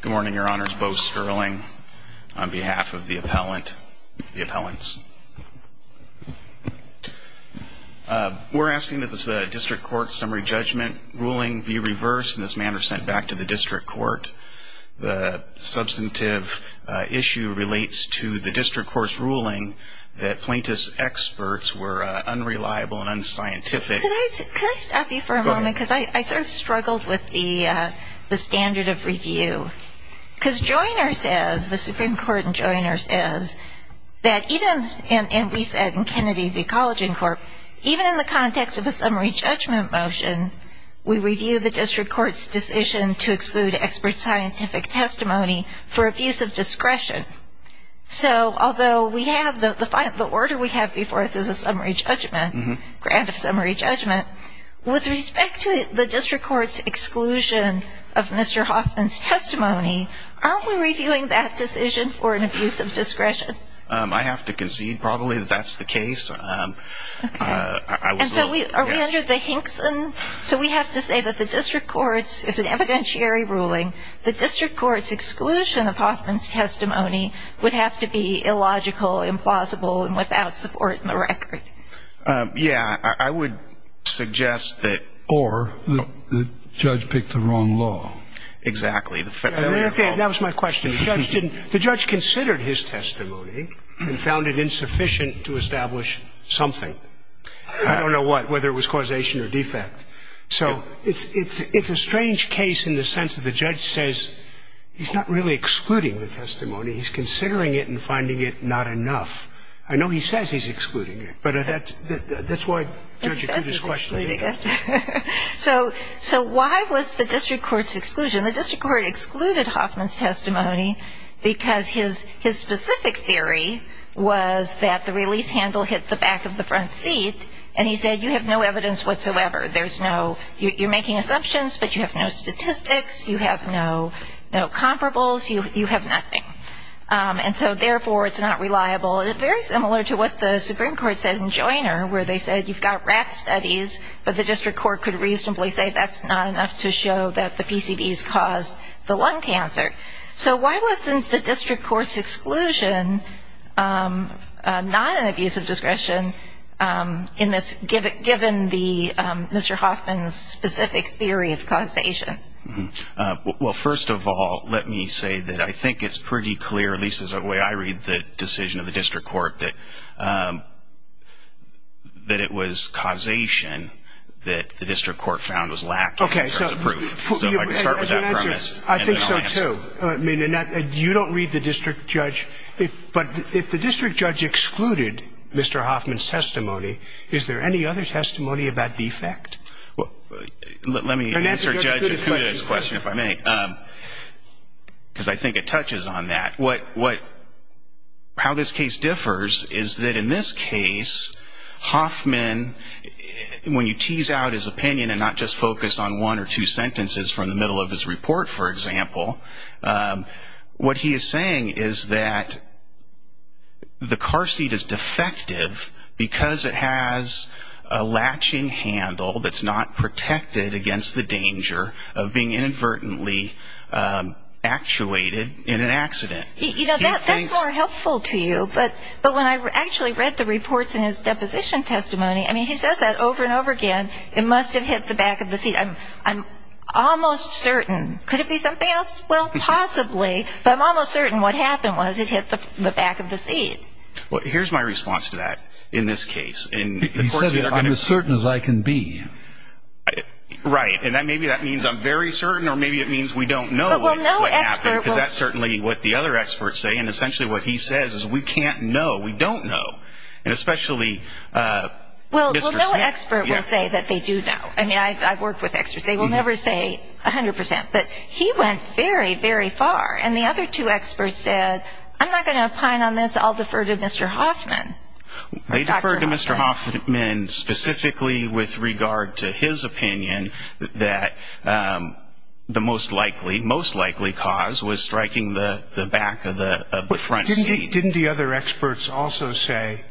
Good morning, your honors. Bo Sterling on behalf of the appellants. We're asking that the district court's summary judgment ruling be reversed and in this manner sent back to the district court. The substantive issue relates to the district court's ruling that plaintiffs' experts were unreliable and unscientific. Could I stop you for a moment, because I sort of struggled with the standard of review. Because Joyner says, the Supreme Court in Joyner says, that even, and we said in Kennedy v. College and Corp., even in the context of a summary judgment motion, we review the district court's decision to exclude expert scientific testimony for abuse of discretion. So although we have, the order we have before us is a summary judgment, grant of summary judgment, with respect to the district court's exclusion of Mr. Hoffman's testimony, aren't we reviewing that decision for an abuse of discretion? I have to concede probably that that's the case. And so are we under the Hinkson? So we have to say that the district court's, it's an evidentiary ruling, the district court's exclusion of Hoffman's testimony would have to be illogical, implausible, and without support in the record. Yeah, I would suggest that. Or the judge picked the wrong law. Exactly. That was my question. The judge considered his testimony and found it insufficient to establish something. I don't know what, whether it was causation or defect. So it's a strange case in the sense that the judge says he's not really excluding the testimony. He's considering it and finding it not enough. I know he says he's excluding it, but that's why Judge Acutis questioned it. So why was the district court's exclusion? The district court excluded Hoffman's testimony because his specific theory was that the release handle hit the back of the front seat, and he said you have no evidence whatsoever. There's no, you're making assumptions, but you have no statistics. You have no comparables. You have nothing. And so, therefore, it's not reliable. It's very similar to what the Supreme Court said in Joyner where they said you've got rat studies, but the district court could reasonably say that's not enough to show that the PCBs caused the lung cancer. So why wasn't the district court's exclusion not an abuse of discretion given Mr. Hoffman's specific theory of causation? Well, first of all, let me say that I think it's pretty clear, at least the way I read the decision of the district court, that it was causation that the district court found was lacking in terms of proof. So I can start with that premise and then I'll answer it. I think so, too. I mean, you don't read the district judge. But if the district judge excluded Mr. Hoffman's testimony, is there any other testimony of that defect? Let me answer Judge Akuda's question, if I may, because I think it touches on that. How this case differs is that in this case, Hoffman, when you tease out his opinion and not just focus on one or two sentences from the middle of his report, for example, what he is saying is that the car seat is defective because it has a latching handle that's not protected against the danger of being inadvertently actuated in an accident. You know, that's more helpful to you. But when I actually read the reports in his deposition testimony, I mean, he says that over and over again, it must have hit the back of the seat. I'm almost certain. Could it be something else? Well, possibly. But I'm almost certain what happened was it hit the back of the seat. Well, here's my response to that in this case. He said, I'm as certain as I can be. Right. And maybe that means I'm very certain or maybe it means we don't know what happened, because that's certainly what the other experts say. And essentially what he says is we can't know, we don't know. And especially Mr. Smith. Well, no expert will say that they do know. I mean, I've worked with experts. They will never say 100%. But he went very, very far. And the other two experts said, I'm not going to opine on this. I'll defer to Mr. Hoffman. They defer to Mr. Hoffman specifically with regard to his opinion that the most likely, most likely cause was striking the back of the front seat. Didn't the other experts also say,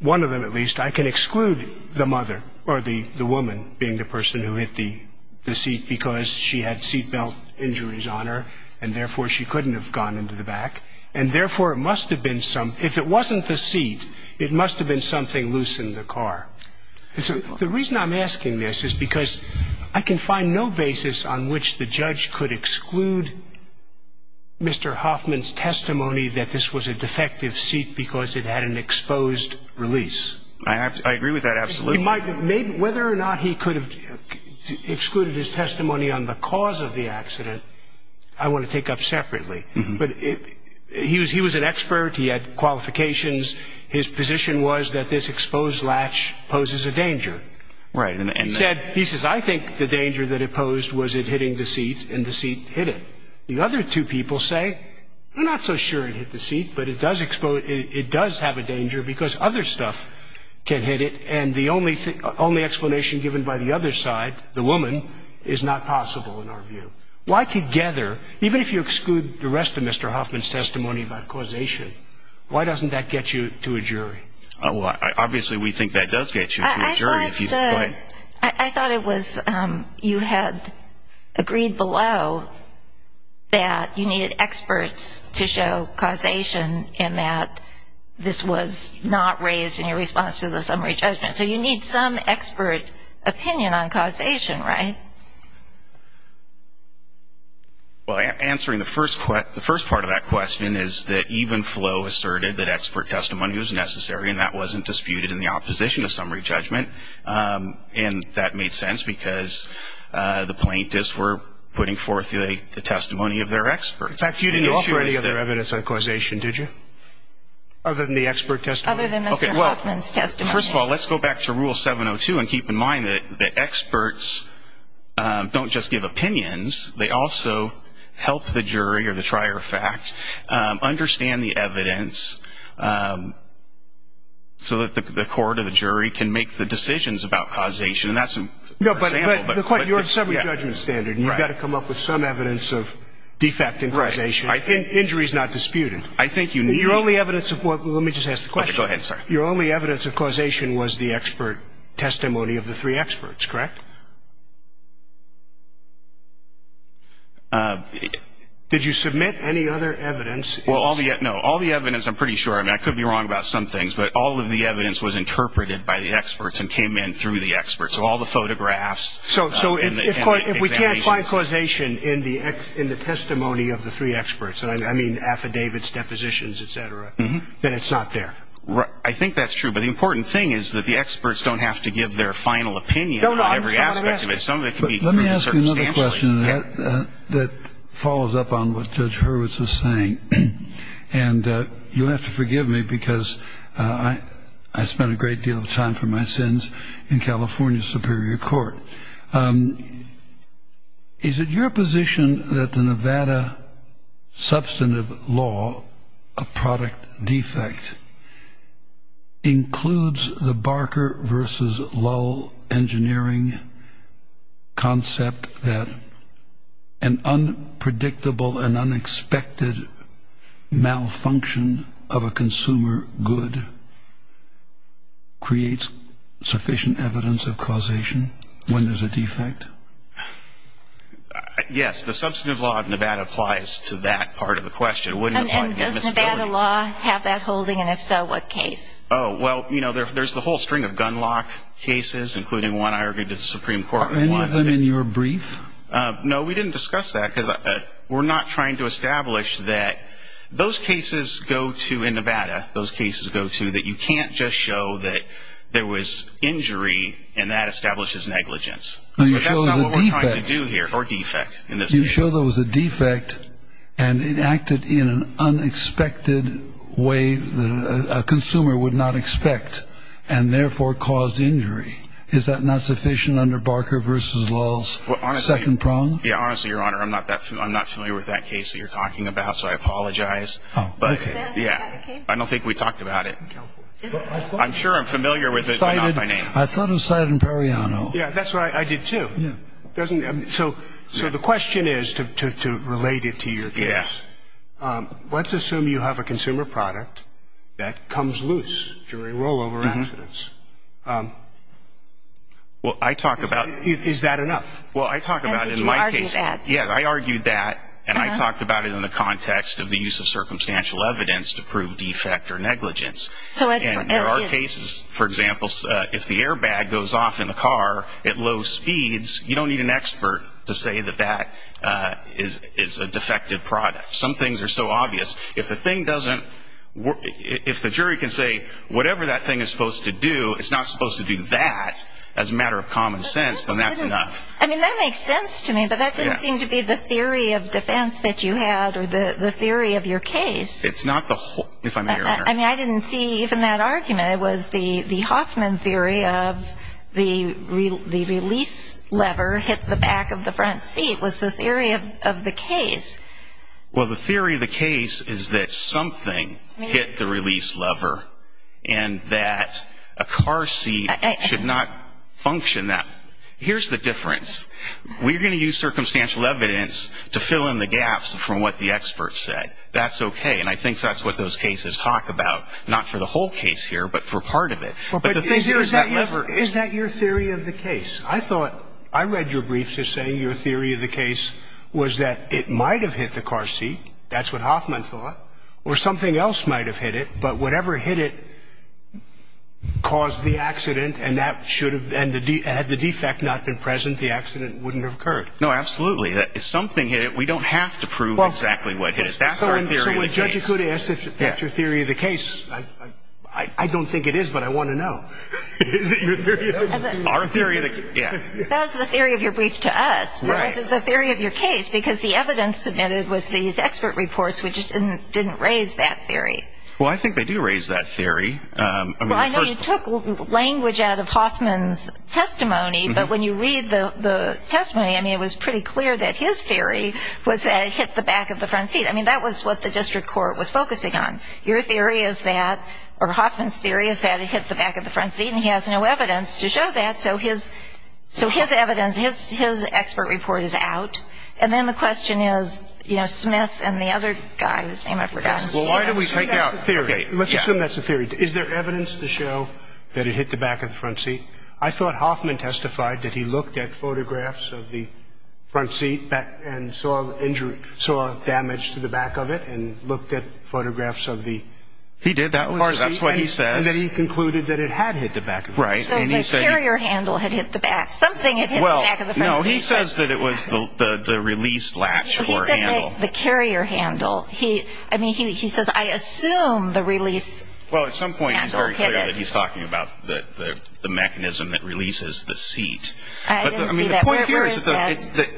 one of them at least, I can exclude the mother or the woman being the person who hit the seat because she had seatbelt injuries on her, and therefore she couldn't have gone into the back. And therefore it must have been some, if it wasn't the seat, it must have been something loose in the car. The reason I'm asking this is because I can find no basis on which the judge could exclude Mr. Hoffman's testimony that this was a defective seat because it had an exposed release. I agree with that absolutely. Whether or not he could have excluded his testimony on the cause of the accident, I want to take up separately. But he was an expert. He had qualifications. His position was that this exposed latch poses a danger. Right. He said, he says, I think the danger that it posed was it hitting the seat, and the seat hit it. The other two people say, I'm not so sure it hit the seat, but it does have a danger because other stuff can hit it, and the only explanation given by the other side, the woman, is not possible in our view. Why together, even if you exclude the rest of Mr. Hoffman's testimony about causation, why doesn't that get you to a jury? Obviously we think that does get you to a jury. I thought it was you had agreed below that you needed experts to show causation and that this was not raised in your response to the summary judgment. So you need some expert opinion on causation, right? Well, answering the first part of that question is that even Flo asserted that expert testimony was necessary, and that wasn't disputed in the opposition to summary judgment. And that made sense because the plaintiffs were putting forth the testimony of their experts. In fact, you didn't issue any other evidence on causation, did you, other than the expert testimony? Other than Mr. Hoffman's testimony. Well, first of all, let's go back to Rule 702 and keep in mind that the experts don't just give opinions. They also help the jury or the trier of fact understand the evidence so that the court or the jury can make the decisions about causation, and that's an example. No, but your summary judgment standard, and you've got to come up with some evidence of defect in causation. Right. Injury is not disputed. I think you need. Your only evidence of what? Let me just ask the question. Okay, go ahead. Sorry. Your only evidence of causation was the expert testimony of the three experts, correct? Did you submit any other evidence? No. All the evidence, I'm pretty sure, and I could be wrong about some things, but all of the evidence was interpreted by the experts and came in through the experts. So all the photographs and examinations. So if we can't find causation in the testimony of the three experts, and I mean affidavits, depositions, et cetera, then it's not there. I think that's true. But the important thing is that the experts don't have to give their final opinion on every aspect of it. Some of it can be pretty substantial. Let me ask you another question that follows up on what Judge Hurwitz was saying, and you'll have to forgive me because I spent a great deal of time for my sins in California Superior Court. Is it your position that the Nevada substantive law, a product defect, includes the Barker versus Lull engineering concept that an unpredictable and unexpected malfunction of a consumer good creates sufficient evidence of causation? When there's a defect? Yes. The substantive law of Nevada applies to that part of the question. And does Nevada law have that holding? And if so, what case? Oh, well, you know, there's the whole string of gun lock cases, including one I argued to the Supreme Court. Are any of them in your brief? No, we didn't discuss that because we're not trying to establish that those cases go to Nevada, that you can't just show that there was injury and that establishes negligence. But that's not what we're trying to do here, or defect, in this case. You show there was a defect and it acted in an unexpected way that a consumer would not expect and therefore caused injury. Is that not sufficient under Barker versus Lull's second prong? Yeah, honestly, Your Honor, I'm not familiar with that case that you're talking about, so I apologize. Oh, okay. Yeah. I don't think we talked about it. I'm sure I'm familiar with it, but not by name. I thought it was cited in Periano. Yeah, that's what I did, too. So the question is, to relate it to your case, let's assume you have a consumer product that comes loose during rollover accidents. Well, I talk about it. Is that enough? Well, I talk about it in my case. You argued that. And I talked about it in the context of the use of circumstantial evidence to prove defect or negligence. And there are cases, for example, if the airbag goes off in the car at low speeds, you don't need an expert to say that that is a defective product. Some things are so obvious. If the jury can say whatever that thing is supposed to do, it's not supposed to do that as a matter of common sense, then that's enough. I mean, that makes sense to me, but that didn't seem to be the theory of defense that you had or the theory of your case. It's not the whole, if I may, Your Honor. I mean, I didn't see even that argument. It was the Hoffman theory of the release lever hit the back of the front seat was the theory of the case. Well, the theory of the case is that something hit the release lever and that a car seat should not function that way. Here's the difference. We're going to use circumstantial evidence to fill in the gaps from what the experts said. That's okay. And I think that's what those cases talk about, not for the whole case here, but for part of it. But the thing is that lever. Is that your theory of the case? I thought I read your brief just saying your theory of the case was that it might have hit the car seat. That's what Hoffman thought. Or something else might have hit it, but whatever hit it caused the accident and had the defect not been present, the accident wouldn't have occurred. No, absolutely. If something hit it, we don't have to prove exactly what hit it. That's our theory of the case. So when Judge Ikuda asks if that's your theory of the case, I don't think it is, but I want to know. Is it your theory of the case? Our theory of the case, yeah. That was the theory of your brief to us. It wasn't the theory of your case because the evidence submitted was these expert reports, which didn't raise that theory. Well, I think they do raise that theory. Well, I know you took language out of Hoffman's testimony, but when you read the testimony, I mean, it was pretty clear that his theory was that it hit the back of the front seat. I mean, that was what the district court was focusing on. Your theory is that, or Hoffman's theory is that it hit the back of the front seat, and he has no evidence to show that, so his evidence, his expert report is out. And then the question is, you know, Smith and the other guy, his name I've forgotten. Well, why don't we take out the theory? Let's assume that's the theory. Is there evidence to show that it hit the back of the front seat? I thought Hoffman testified that he looked at photographs of the front seat and saw damage to the back of it and looked at photographs of the front seat. He did that. That's what he says. And then he concluded that it had hit the back of the front seat. So the carrier handle had hit the back. Something had hit the back of the front seat. No, he says that it was the release latch or handle. The carrier handle. I mean, he says, I assume the release handle hit it. Well, at some point he's very clear that he's talking about the mechanism that releases the seat. I didn't see that. Where is that?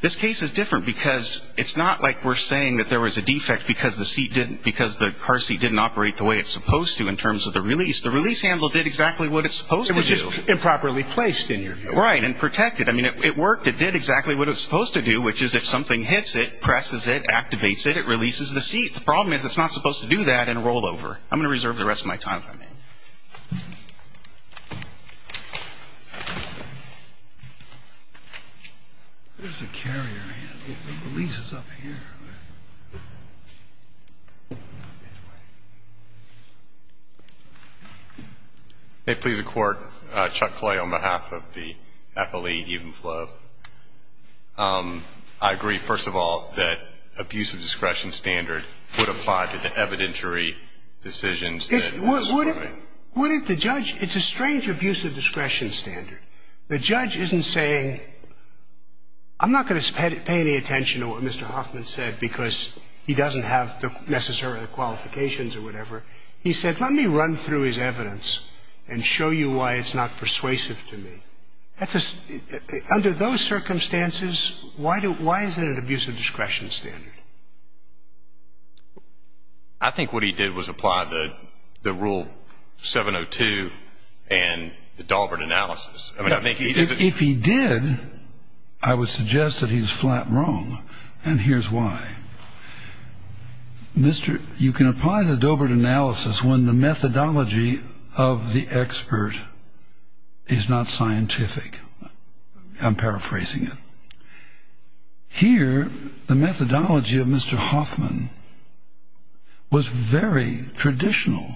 This case is different because it's not like we're saying that there was a defect because the car seat didn't operate the way it's supposed to in terms of the release. The release handle did exactly what it's supposed to do. It was just improperly placed in your view. Right, and protected. I mean, it worked. It did exactly what it's supposed to do, which is if something hits it, presses it, activates it, it releases the seat. The problem is it's not supposed to do that in a rollover. I'm going to reserve the rest of my time if I may. There's a carrier handle. The release is up here. May it please the Court. Chuck Clay on behalf of the athlete, Ethan Flo. I agree, first of all, that abuse of discretion standard would apply to the evidentiary decisions. It's a strange abuse of discretion standard. The judge isn't saying I'm not going to pay any attention to what Mr. Hoffman said because he doesn't have the necessary qualifications or whatever. He said let me run through his evidence and show you why it's not persuasive to me. Under those circumstances, why is it an abuse of discretion standard? I think what he did was apply the rule 702 and the Daubert analysis. If he did, I would suggest that he's flat wrong, and here's why. You can apply the Daubert analysis when the methodology of the expert is not scientific. I'm paraphrasing it. Here, the methodology of Mr. Hoffman was very traditional.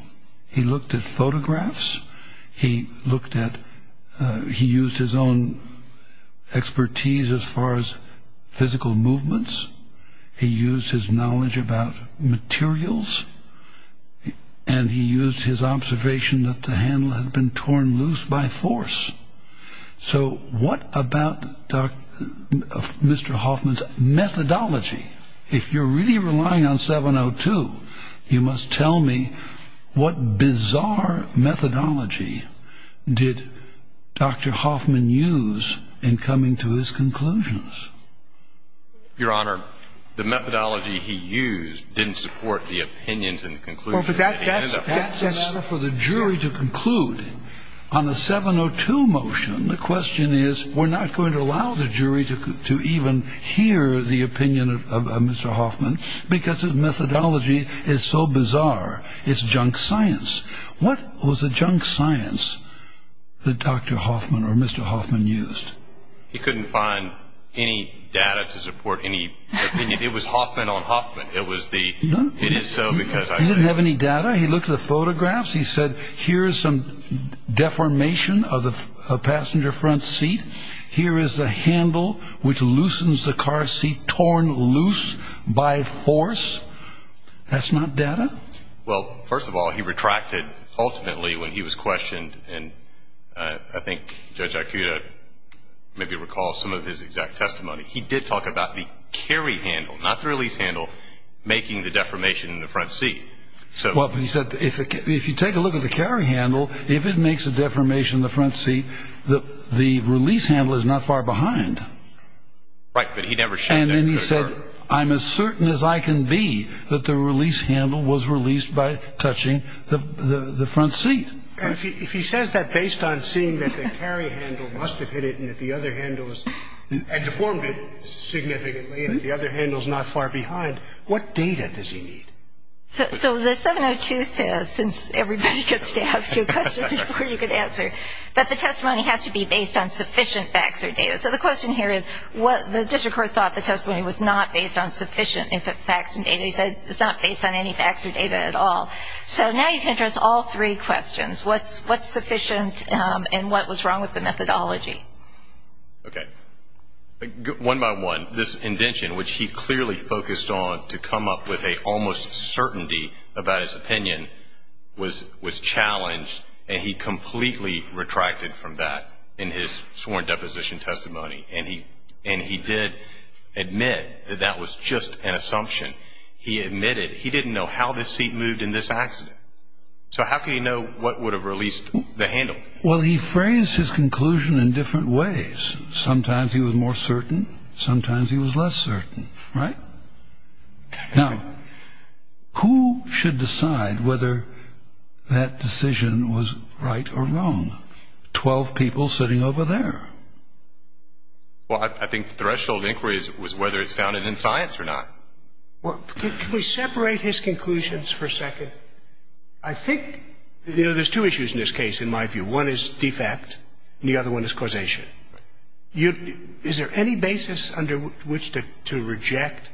He looked at photographs. He used his own expertise as far as physical movements. He used his knowledge about materials, and he used his observation that the handle had been torn loose by force. So what about Mr. Hoffman's methodology? If you're really relying on 702, you must tell me what bizarre methodology did Dr. Hoffman use in coming to his conclusions. Your Honor, the methodology he used didn't support the opinions and conclusions. That's a matter for the jury to conclude. On the 702 motion, the question is, we're not going to allow the jury to even hear the opinion of Mr. Hoffman because his methodology is so bizarre. It's junk science. What was the junk science that Dr. Hoffman or Mr. Hoffman used? He couldn't find any data to support any opinion. It was Hoffman on Hoffman. He didn't have any data. He looked at the photographs. He said, here is some deformation of a passenger front seat. Here is a handle which loosens the car seat torn loose by force. That's not data. Well, first of all, he retracted ultimately when he was questioned, and I think Judge Akuta maybe recalls some of his exact testimony. He did talk about the carry handle, not the release handle, making the deformation in the front seat. Well, he said, if you take a look at the carry handle, if it makes a deformation in the front seat, the release handle is not far behind. Right, but he never showed that. And then he said, I'm as certain as I can be that the release handle was released by touching the front seat. If he says that based on seeing that the carry handle must have hit it and deformed it significantly and the other handle is not far behind, what data does he need? So the 702 says, since everybody gets to ask you a question before you can answer, that the testimony has to be based on sufficient facts or data. So the question here is, the district court thought the testimony was not based on sufficient facts and data. He said it's not based on any facts or data at all. So now you can address all three questions. What's sufficient and what was wrong with the methodology? Okay. One by one, this indention, which he clearly focused on to come up with an almost certainty about his opinion, was challenged and he completely retracted from that in his sworn deposition testimony. And he did admit that that was just an assumption. He admitted he didn't know how the seat moved in this accident. So how can you know what would have released the handle? Well, he phrased his conclusion in different ways. Sometimes he was more certain. Sometimes he was less certain. Right? Now, who should decide whether that decision was right or wrong? Twelve people sitting over there. Well, I think the threshold inquiry was whether it's founded in science or not. Can we separate his conclusions for a second? I think there's two issues in this case in my view. One is defect and the other one is causation. Is there any basis under which to reject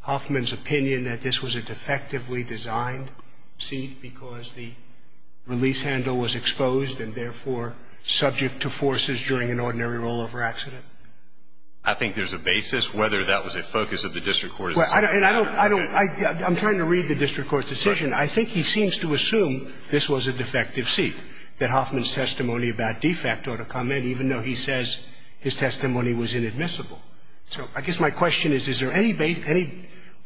Hoffman's opinion that this was a defectively designed seat because the release handle was exposed and therefore subject to forces during an ordinary rollover accident? I think there's a basis whether that was a focus of the district court. I'm trying to read the district court's decision. I think he seems to assume this was a defective seat, that Hoffman's testimony about defect ought to come in even though he says his testimony was inadmissible. So I guess my question is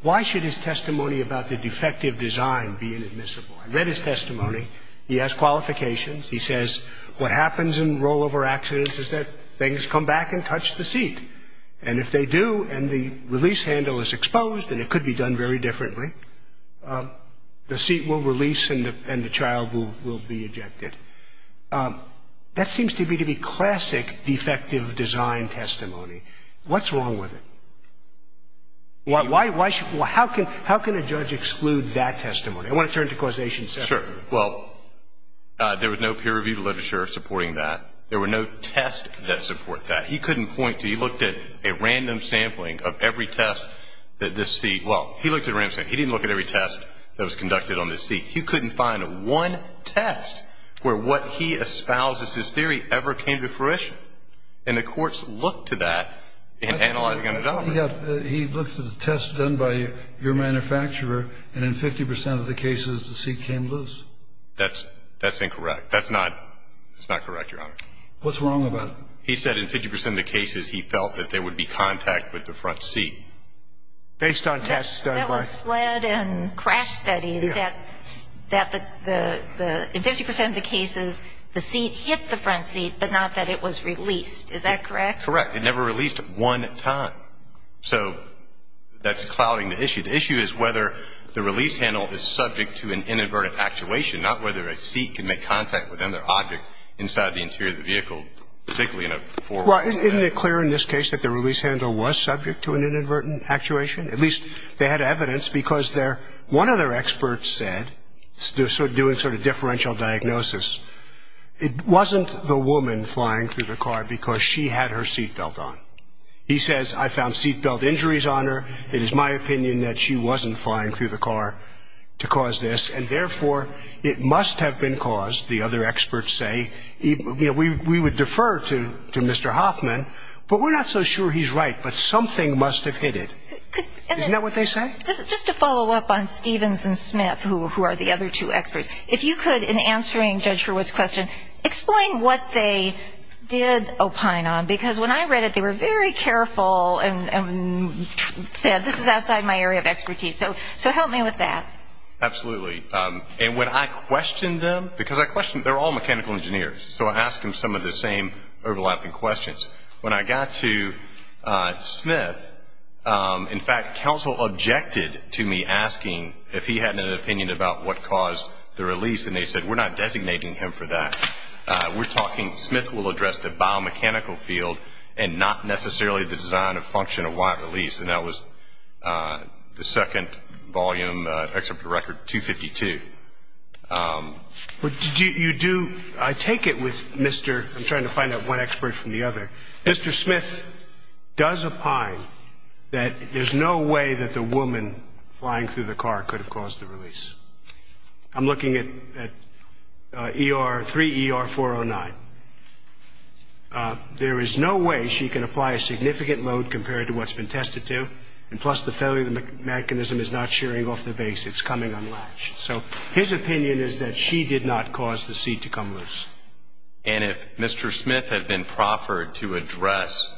why should his testimony about the defective design be inadmissible? I read his testimony. He has qualifications. He says what happens in rollover accidents is that things come back and touch the seat. And if they do and the release handle is exposed and it could be done very differently, the seat will release and the child will be ejected. That seems to me to be classic defective design testimony. What's wrong with it? Why should you – how can a judge exclude that testimony? I want to turn to causation. Sure. Well, there was no peer-reviewed literature supporting that. There were no tests that support that. He couldn't point to. He looked at a random sampling of every test that this seat – well, he looked at a random sampling. He didn't look at every test that was conducted on this seat. He couldn't find one test where what he espouses as theory ever came to fruition. And the courts looked to that in analyzing underdogment. He looked at the tests done by your manufacturer and in 50 percent of the cases the seat came loose. That's incorrect. That's not correct, Your Honor. What's wrong about it? He said in 50 percent of the cases he felt that there would be contact with the front seat. Based on tests done by – That was led in crash studies that in 50 percent of the cases the seat hit the front seat, but not that it was released. Is that correct? Correct. It never released one time. So that's clouding the issue. The issue is whether the release handle is subject to an inadvertent actuation, not whether a seat can make contact with another object inside the interior of the vehicle, particularly in a four-wheel drive. Well, isn't it clear in this case that the release handle was subject to an inadvertent actuation? At least they had evidence because their – one of their experts said, doing sort of differential diagnosis, it wasn't the woman flying through the car because she had her seat belt on. He says, I found seat belt injuries on her. It is my opinion that she wasn't flying through the car to cause this, and therefore it must have been caused, the other experts say. You know, we would defer to Mr. Hoffman, but we're not so sure he's right, but something must have hit it. Isn't that what they say? If you could, in answering Judge Hurwitz's question, explain what they did opine on, because when I read it, they were very careful and said, this is outside my area of expertise. So help me with that. Absolutely. And when I questioned them, because I questioned – they're all mechanical engineers, so I asked them some of the same overlapping questions. When I got to Smith, in fact, counsel objected to me asking if he had an opinion about what caused the release, and they said, we're not designating him for that. We're talking – Smith will address the biomechanical field and not necessarily the design and function of why it released, and that was the second volume, excerpt of the record, 252. You do – I take it with Mr. – I'm trying to find out one expert from the other. Mr. Smith does opine that there's no way that the woman flying through the car could have caused the release. I'm looking at 3ER409. There is no way she can apply a significant load compared to what's been tested to, and plus the failure of the mechanism is not shearing off the base. It's coming unlatched. So his opinion is that she did not cause the seat to come loose. And if Mr. Smith had been proffered to address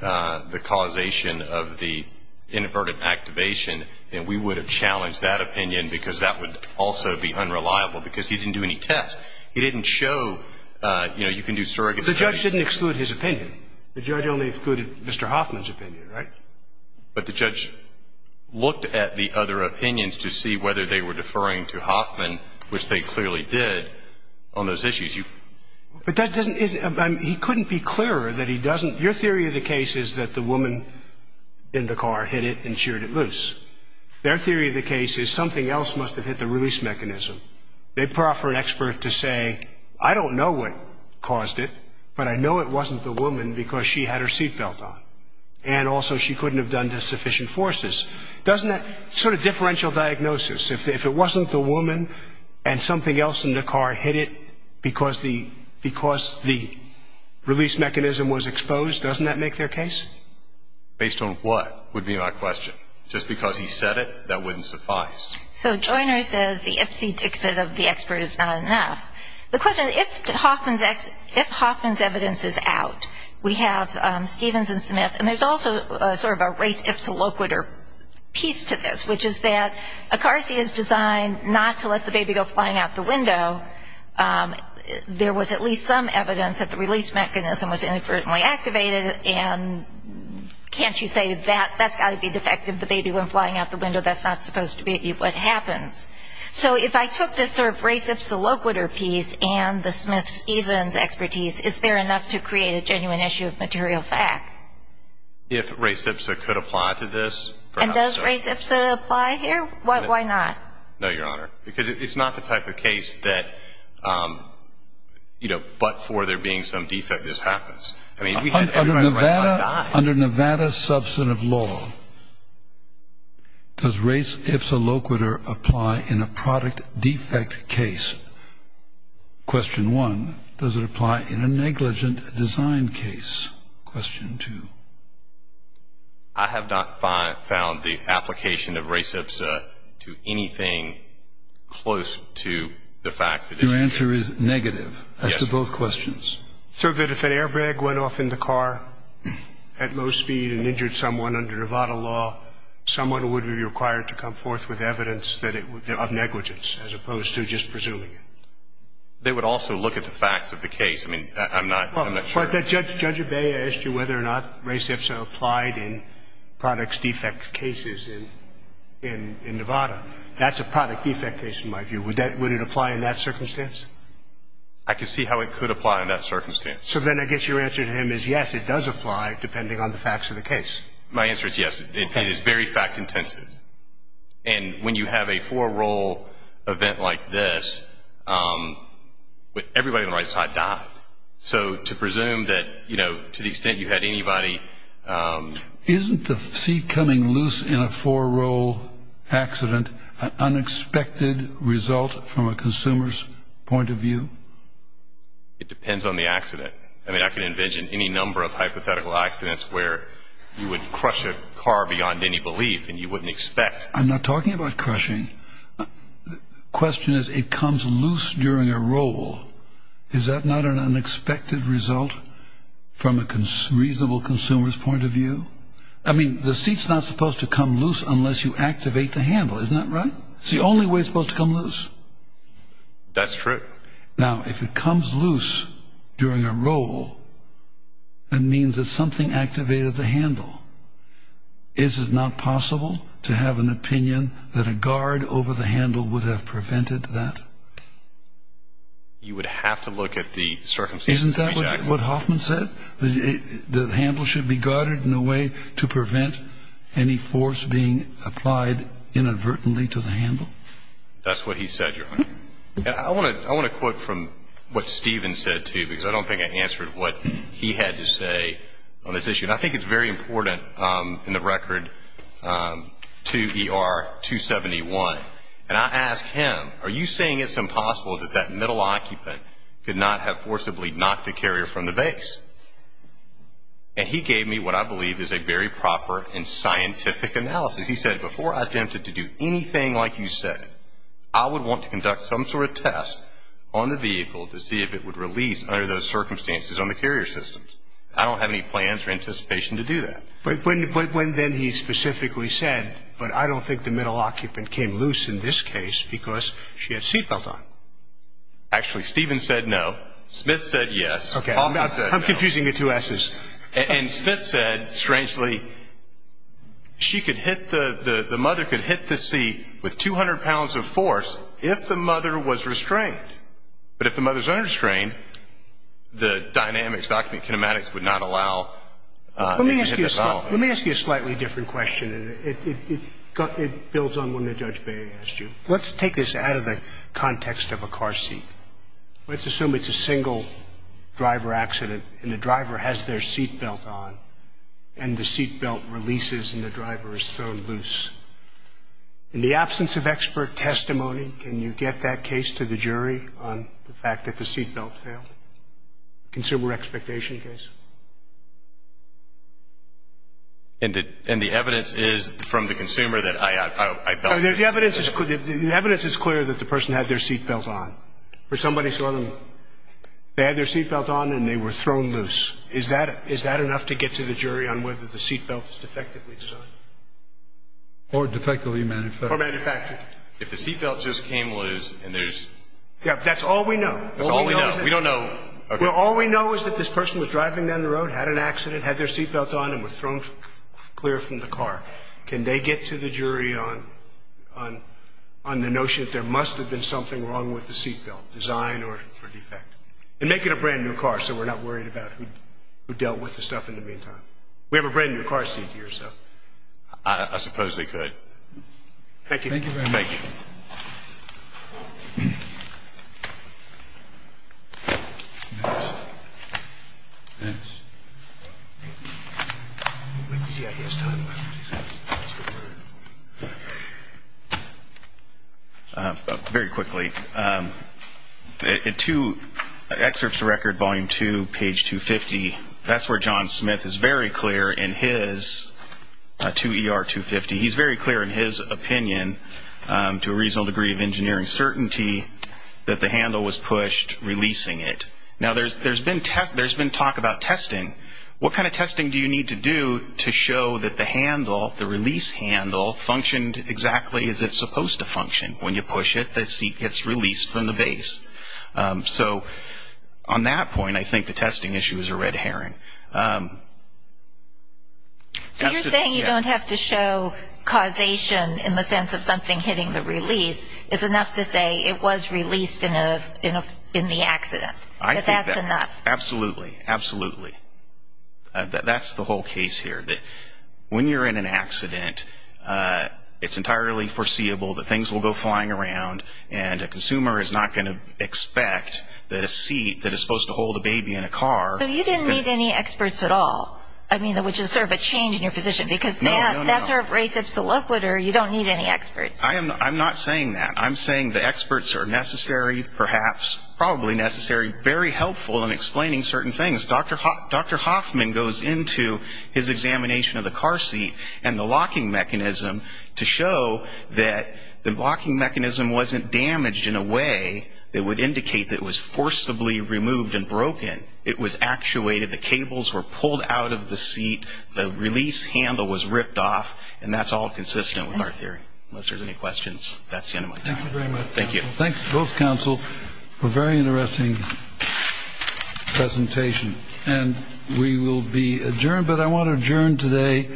the causation of the inverted activation, then we would have challenged that opinion because that would also be unreliable because he didn't do any tests. He didn't show, you know, you can do surrogate studies. The judge didn't exclude his opinion. The judge only excluded Mr. Hoffman's opinion, right? But the judge looked at the other opinions to see whether they were deferring to Hoffman, which they clearly did, on those issues. But that doesn't, he couldn't be clearer that he doesn't, your theory of the case is that the woman in the car hit it and sheared it loose. Their theory of the case is something else must have hit the release mechanism. They proffer an expert to say, I don't know what caused it, but I know it wasn't the woman because she had her seat belt on, and also she couldn't have done the sufficient forces. Doesn't that, sort of differential diagnosis, if it wasn't the woman and something else in the car hit it because the release mechanism was exposed, doesn't that make their case? Based on what would be my question. Just because he said it, that wouldn't suffice. So Joyner says the ipsy-dixit of the expert is not enough. The question is if Hoffman's evidence is out, we have Stevens and Smith, and there's also sort of a race-ipsy-loquitur piece to this, which is that a car seat is designed not to let the baby go flying out the window. There was at least some evidence that the release mechanism was inadvertently activated, and can't you say that's got to be defective, the baby going flying out the window. That's not supposed to be what happens. So if I took this sort of race-ipsy-loquitur piece and the Smith-Stevens expertise, is there enough to create a genuine issue of material fact? If race-ipsy could apply to this, perhaps so. And does race-ipsy apply here? Why not? No, Your Honor, because it's not the type of case that, you know, but for there being some defect, this happens. Under Nevada substantive law, does race-ipsy-loquitur apply in a product defect case? Question one. Does it apply in a negligent design case? Question two. I have not found the application of race-ipsy to anything close to the facts. Your answer is negative as to both questions. Yes. So that if an airbag went off in the car at low speed and injured someone under Nevada law, someone would be required to come forth with evidence of negligence as opposed to just presuming it. They would also look at the facts of the case. I mean, I'm not sure. Judge Abey asked you whether or not race-ipsy applied in product defect cases in Nevada. That's a product defect case in my view. Would it apply in that circumstance? I can see how it could apply in that circumstance. So then I guess your answer to him is yes, it does apply depending on the facts of the case. My answer is yes. It is very fact-intensive. And when you have a four-role event like this, everybody on the right side died. So to presume that, you know, to the extent you had anybody. Isn't the seat coming loose in a four-role accident an unexpected result from a consumer's point of view? It depends on the accident. I mean, I can envision any number of hypothetical accidents where you would crush a car beyond any belief, and you wouldn't expect. I'm not talking about crushing. The question is it comes loose during a roll. Is that not an unexpected result from a reasonable consumer's point of view? I mean, the seat's not supposed to come loose unless you activate the handle. Isn't that right? It's the only way it's supposed to come loose. That's true. Now, if it comes loose during a roll, that means that something activated the handle. Is it not possible to have an opinion that a guard over the handle would have prevented that? You would have to look at the circumstances of each accident. Isn't that what Hoffman said? The handle should be guarded in a way to prevent any force being applied inadvertently to the handle? That's what he said, Your Honor. And I want to quote from what Stephen said, too, because I don't think I answered what he had to say on this issue. And I think it's very important in the record to ER 271. And I asked him, are you saying it's impossible that that middle occupant could not have forcibly knocked the carrier from the base? And he gave me what I believe is a very proper and scientific analysis. He said, before I attempted to do anything like you said, I would want to conduct some sort of test on the vehicle to see if it would release under those circumstances on the carrier systems. I don't have any plans or anticipation to do that. But when then he specifically said, but I don't think the middle occupant came loose in this case because she had a seat belt on. Actually, Stephen said no. Smith said yes. Okay. Hoffman said no. I'm confusing the two S's. And Smith said, strangely, the mother could hit the seat with 200 pounds of force if the mother was restrained. But if the mother is unrestrained, the dynamics, document kinematics would not allow it to hit the bottom. Let me ask you a slightly different question. It builds on one that Judge Bay asked you. Let's take this out of the context of a car seat. Let's assume it's a single driver accident and the driver has their seat belt on and the seat belt releases and the driver is thrown loose. In the absence of expert testimony, can you get that case to the jury on the fact that the seat belt failed? Consumer expectation case. And the evidence is from the consumer that I felt. The evidence is clear that the person had their seat belt on. Or somebody saw them. They had their seat belt on and they were thrown loose. Is that enough to get to the jury on whether the seat belt is defectively designed? Or defectively manufactured. Or manufactured. If the seat belt just came loose and there's – Yeah, but that's all we know. That's all we know. We don't know. Well, all we know is that this person was driving down the road, had an accident, had their seat belt on, and was thrown clear from the car. Can they get to the jury on the notion that there must have been something wrong with the seat belt, design or defect? And make it a brand-new car so we're not worried about who dealt with the stuff in the meantime. We have a brand-new car seat here, so. I suppose they could. Thank you. Thank you very much. Thank you. Thank you. Next. Next. Very quickly. Two excerpts of record, volume two, page 250. That's where John Smith is very clear in his – to ER-250. He's very clear in his opinion, to a reasonable degree of engineering certainty, that the handle was pushed, releasing it. Now, there's been talk about testing. What kind of testing do you need to do to show that the handle, the release handle, functioned exactly as it's supposed to function? When you push it, the seat gets released from the base. So on that point, I think the testing issue is a red herring. So you're saying you don't have to show causation in the sense of something hitting the release. It's enough to say it was released in the accident. I think that's – But that's enough. Absolutely. Absolutely. That's the whole case here. When you're in an accident, it's entirely foreseeable that things will go flying around and a consumer is not going to expect that a seat that is supposed to hold a baby in a car – So you didn't need any experts at all, which is sort of a change in your position. No, no, no. Because that's a race of soliquid, or you don't need any experts. I'm not saying that. I'm saying the experts are necessary, perhaps, probably necessary, very helpful in explaining certain things. Dr. Hoffman goes into his examination of the car seat and the locking mechanism to show that the locking mechanism wasn't damaged in a way that would indicate that it was forcibly removed and broken. It was actuated. The cables were pulled out of the seat. The release handle was ripped off. And that's all consistent with our theory. Unless there's any questions, that's the end of my time. Thank you very much. Thank you. Thanks to both counsel for a very interesting presentation. And we will be adjourned, but I want to adjourn today.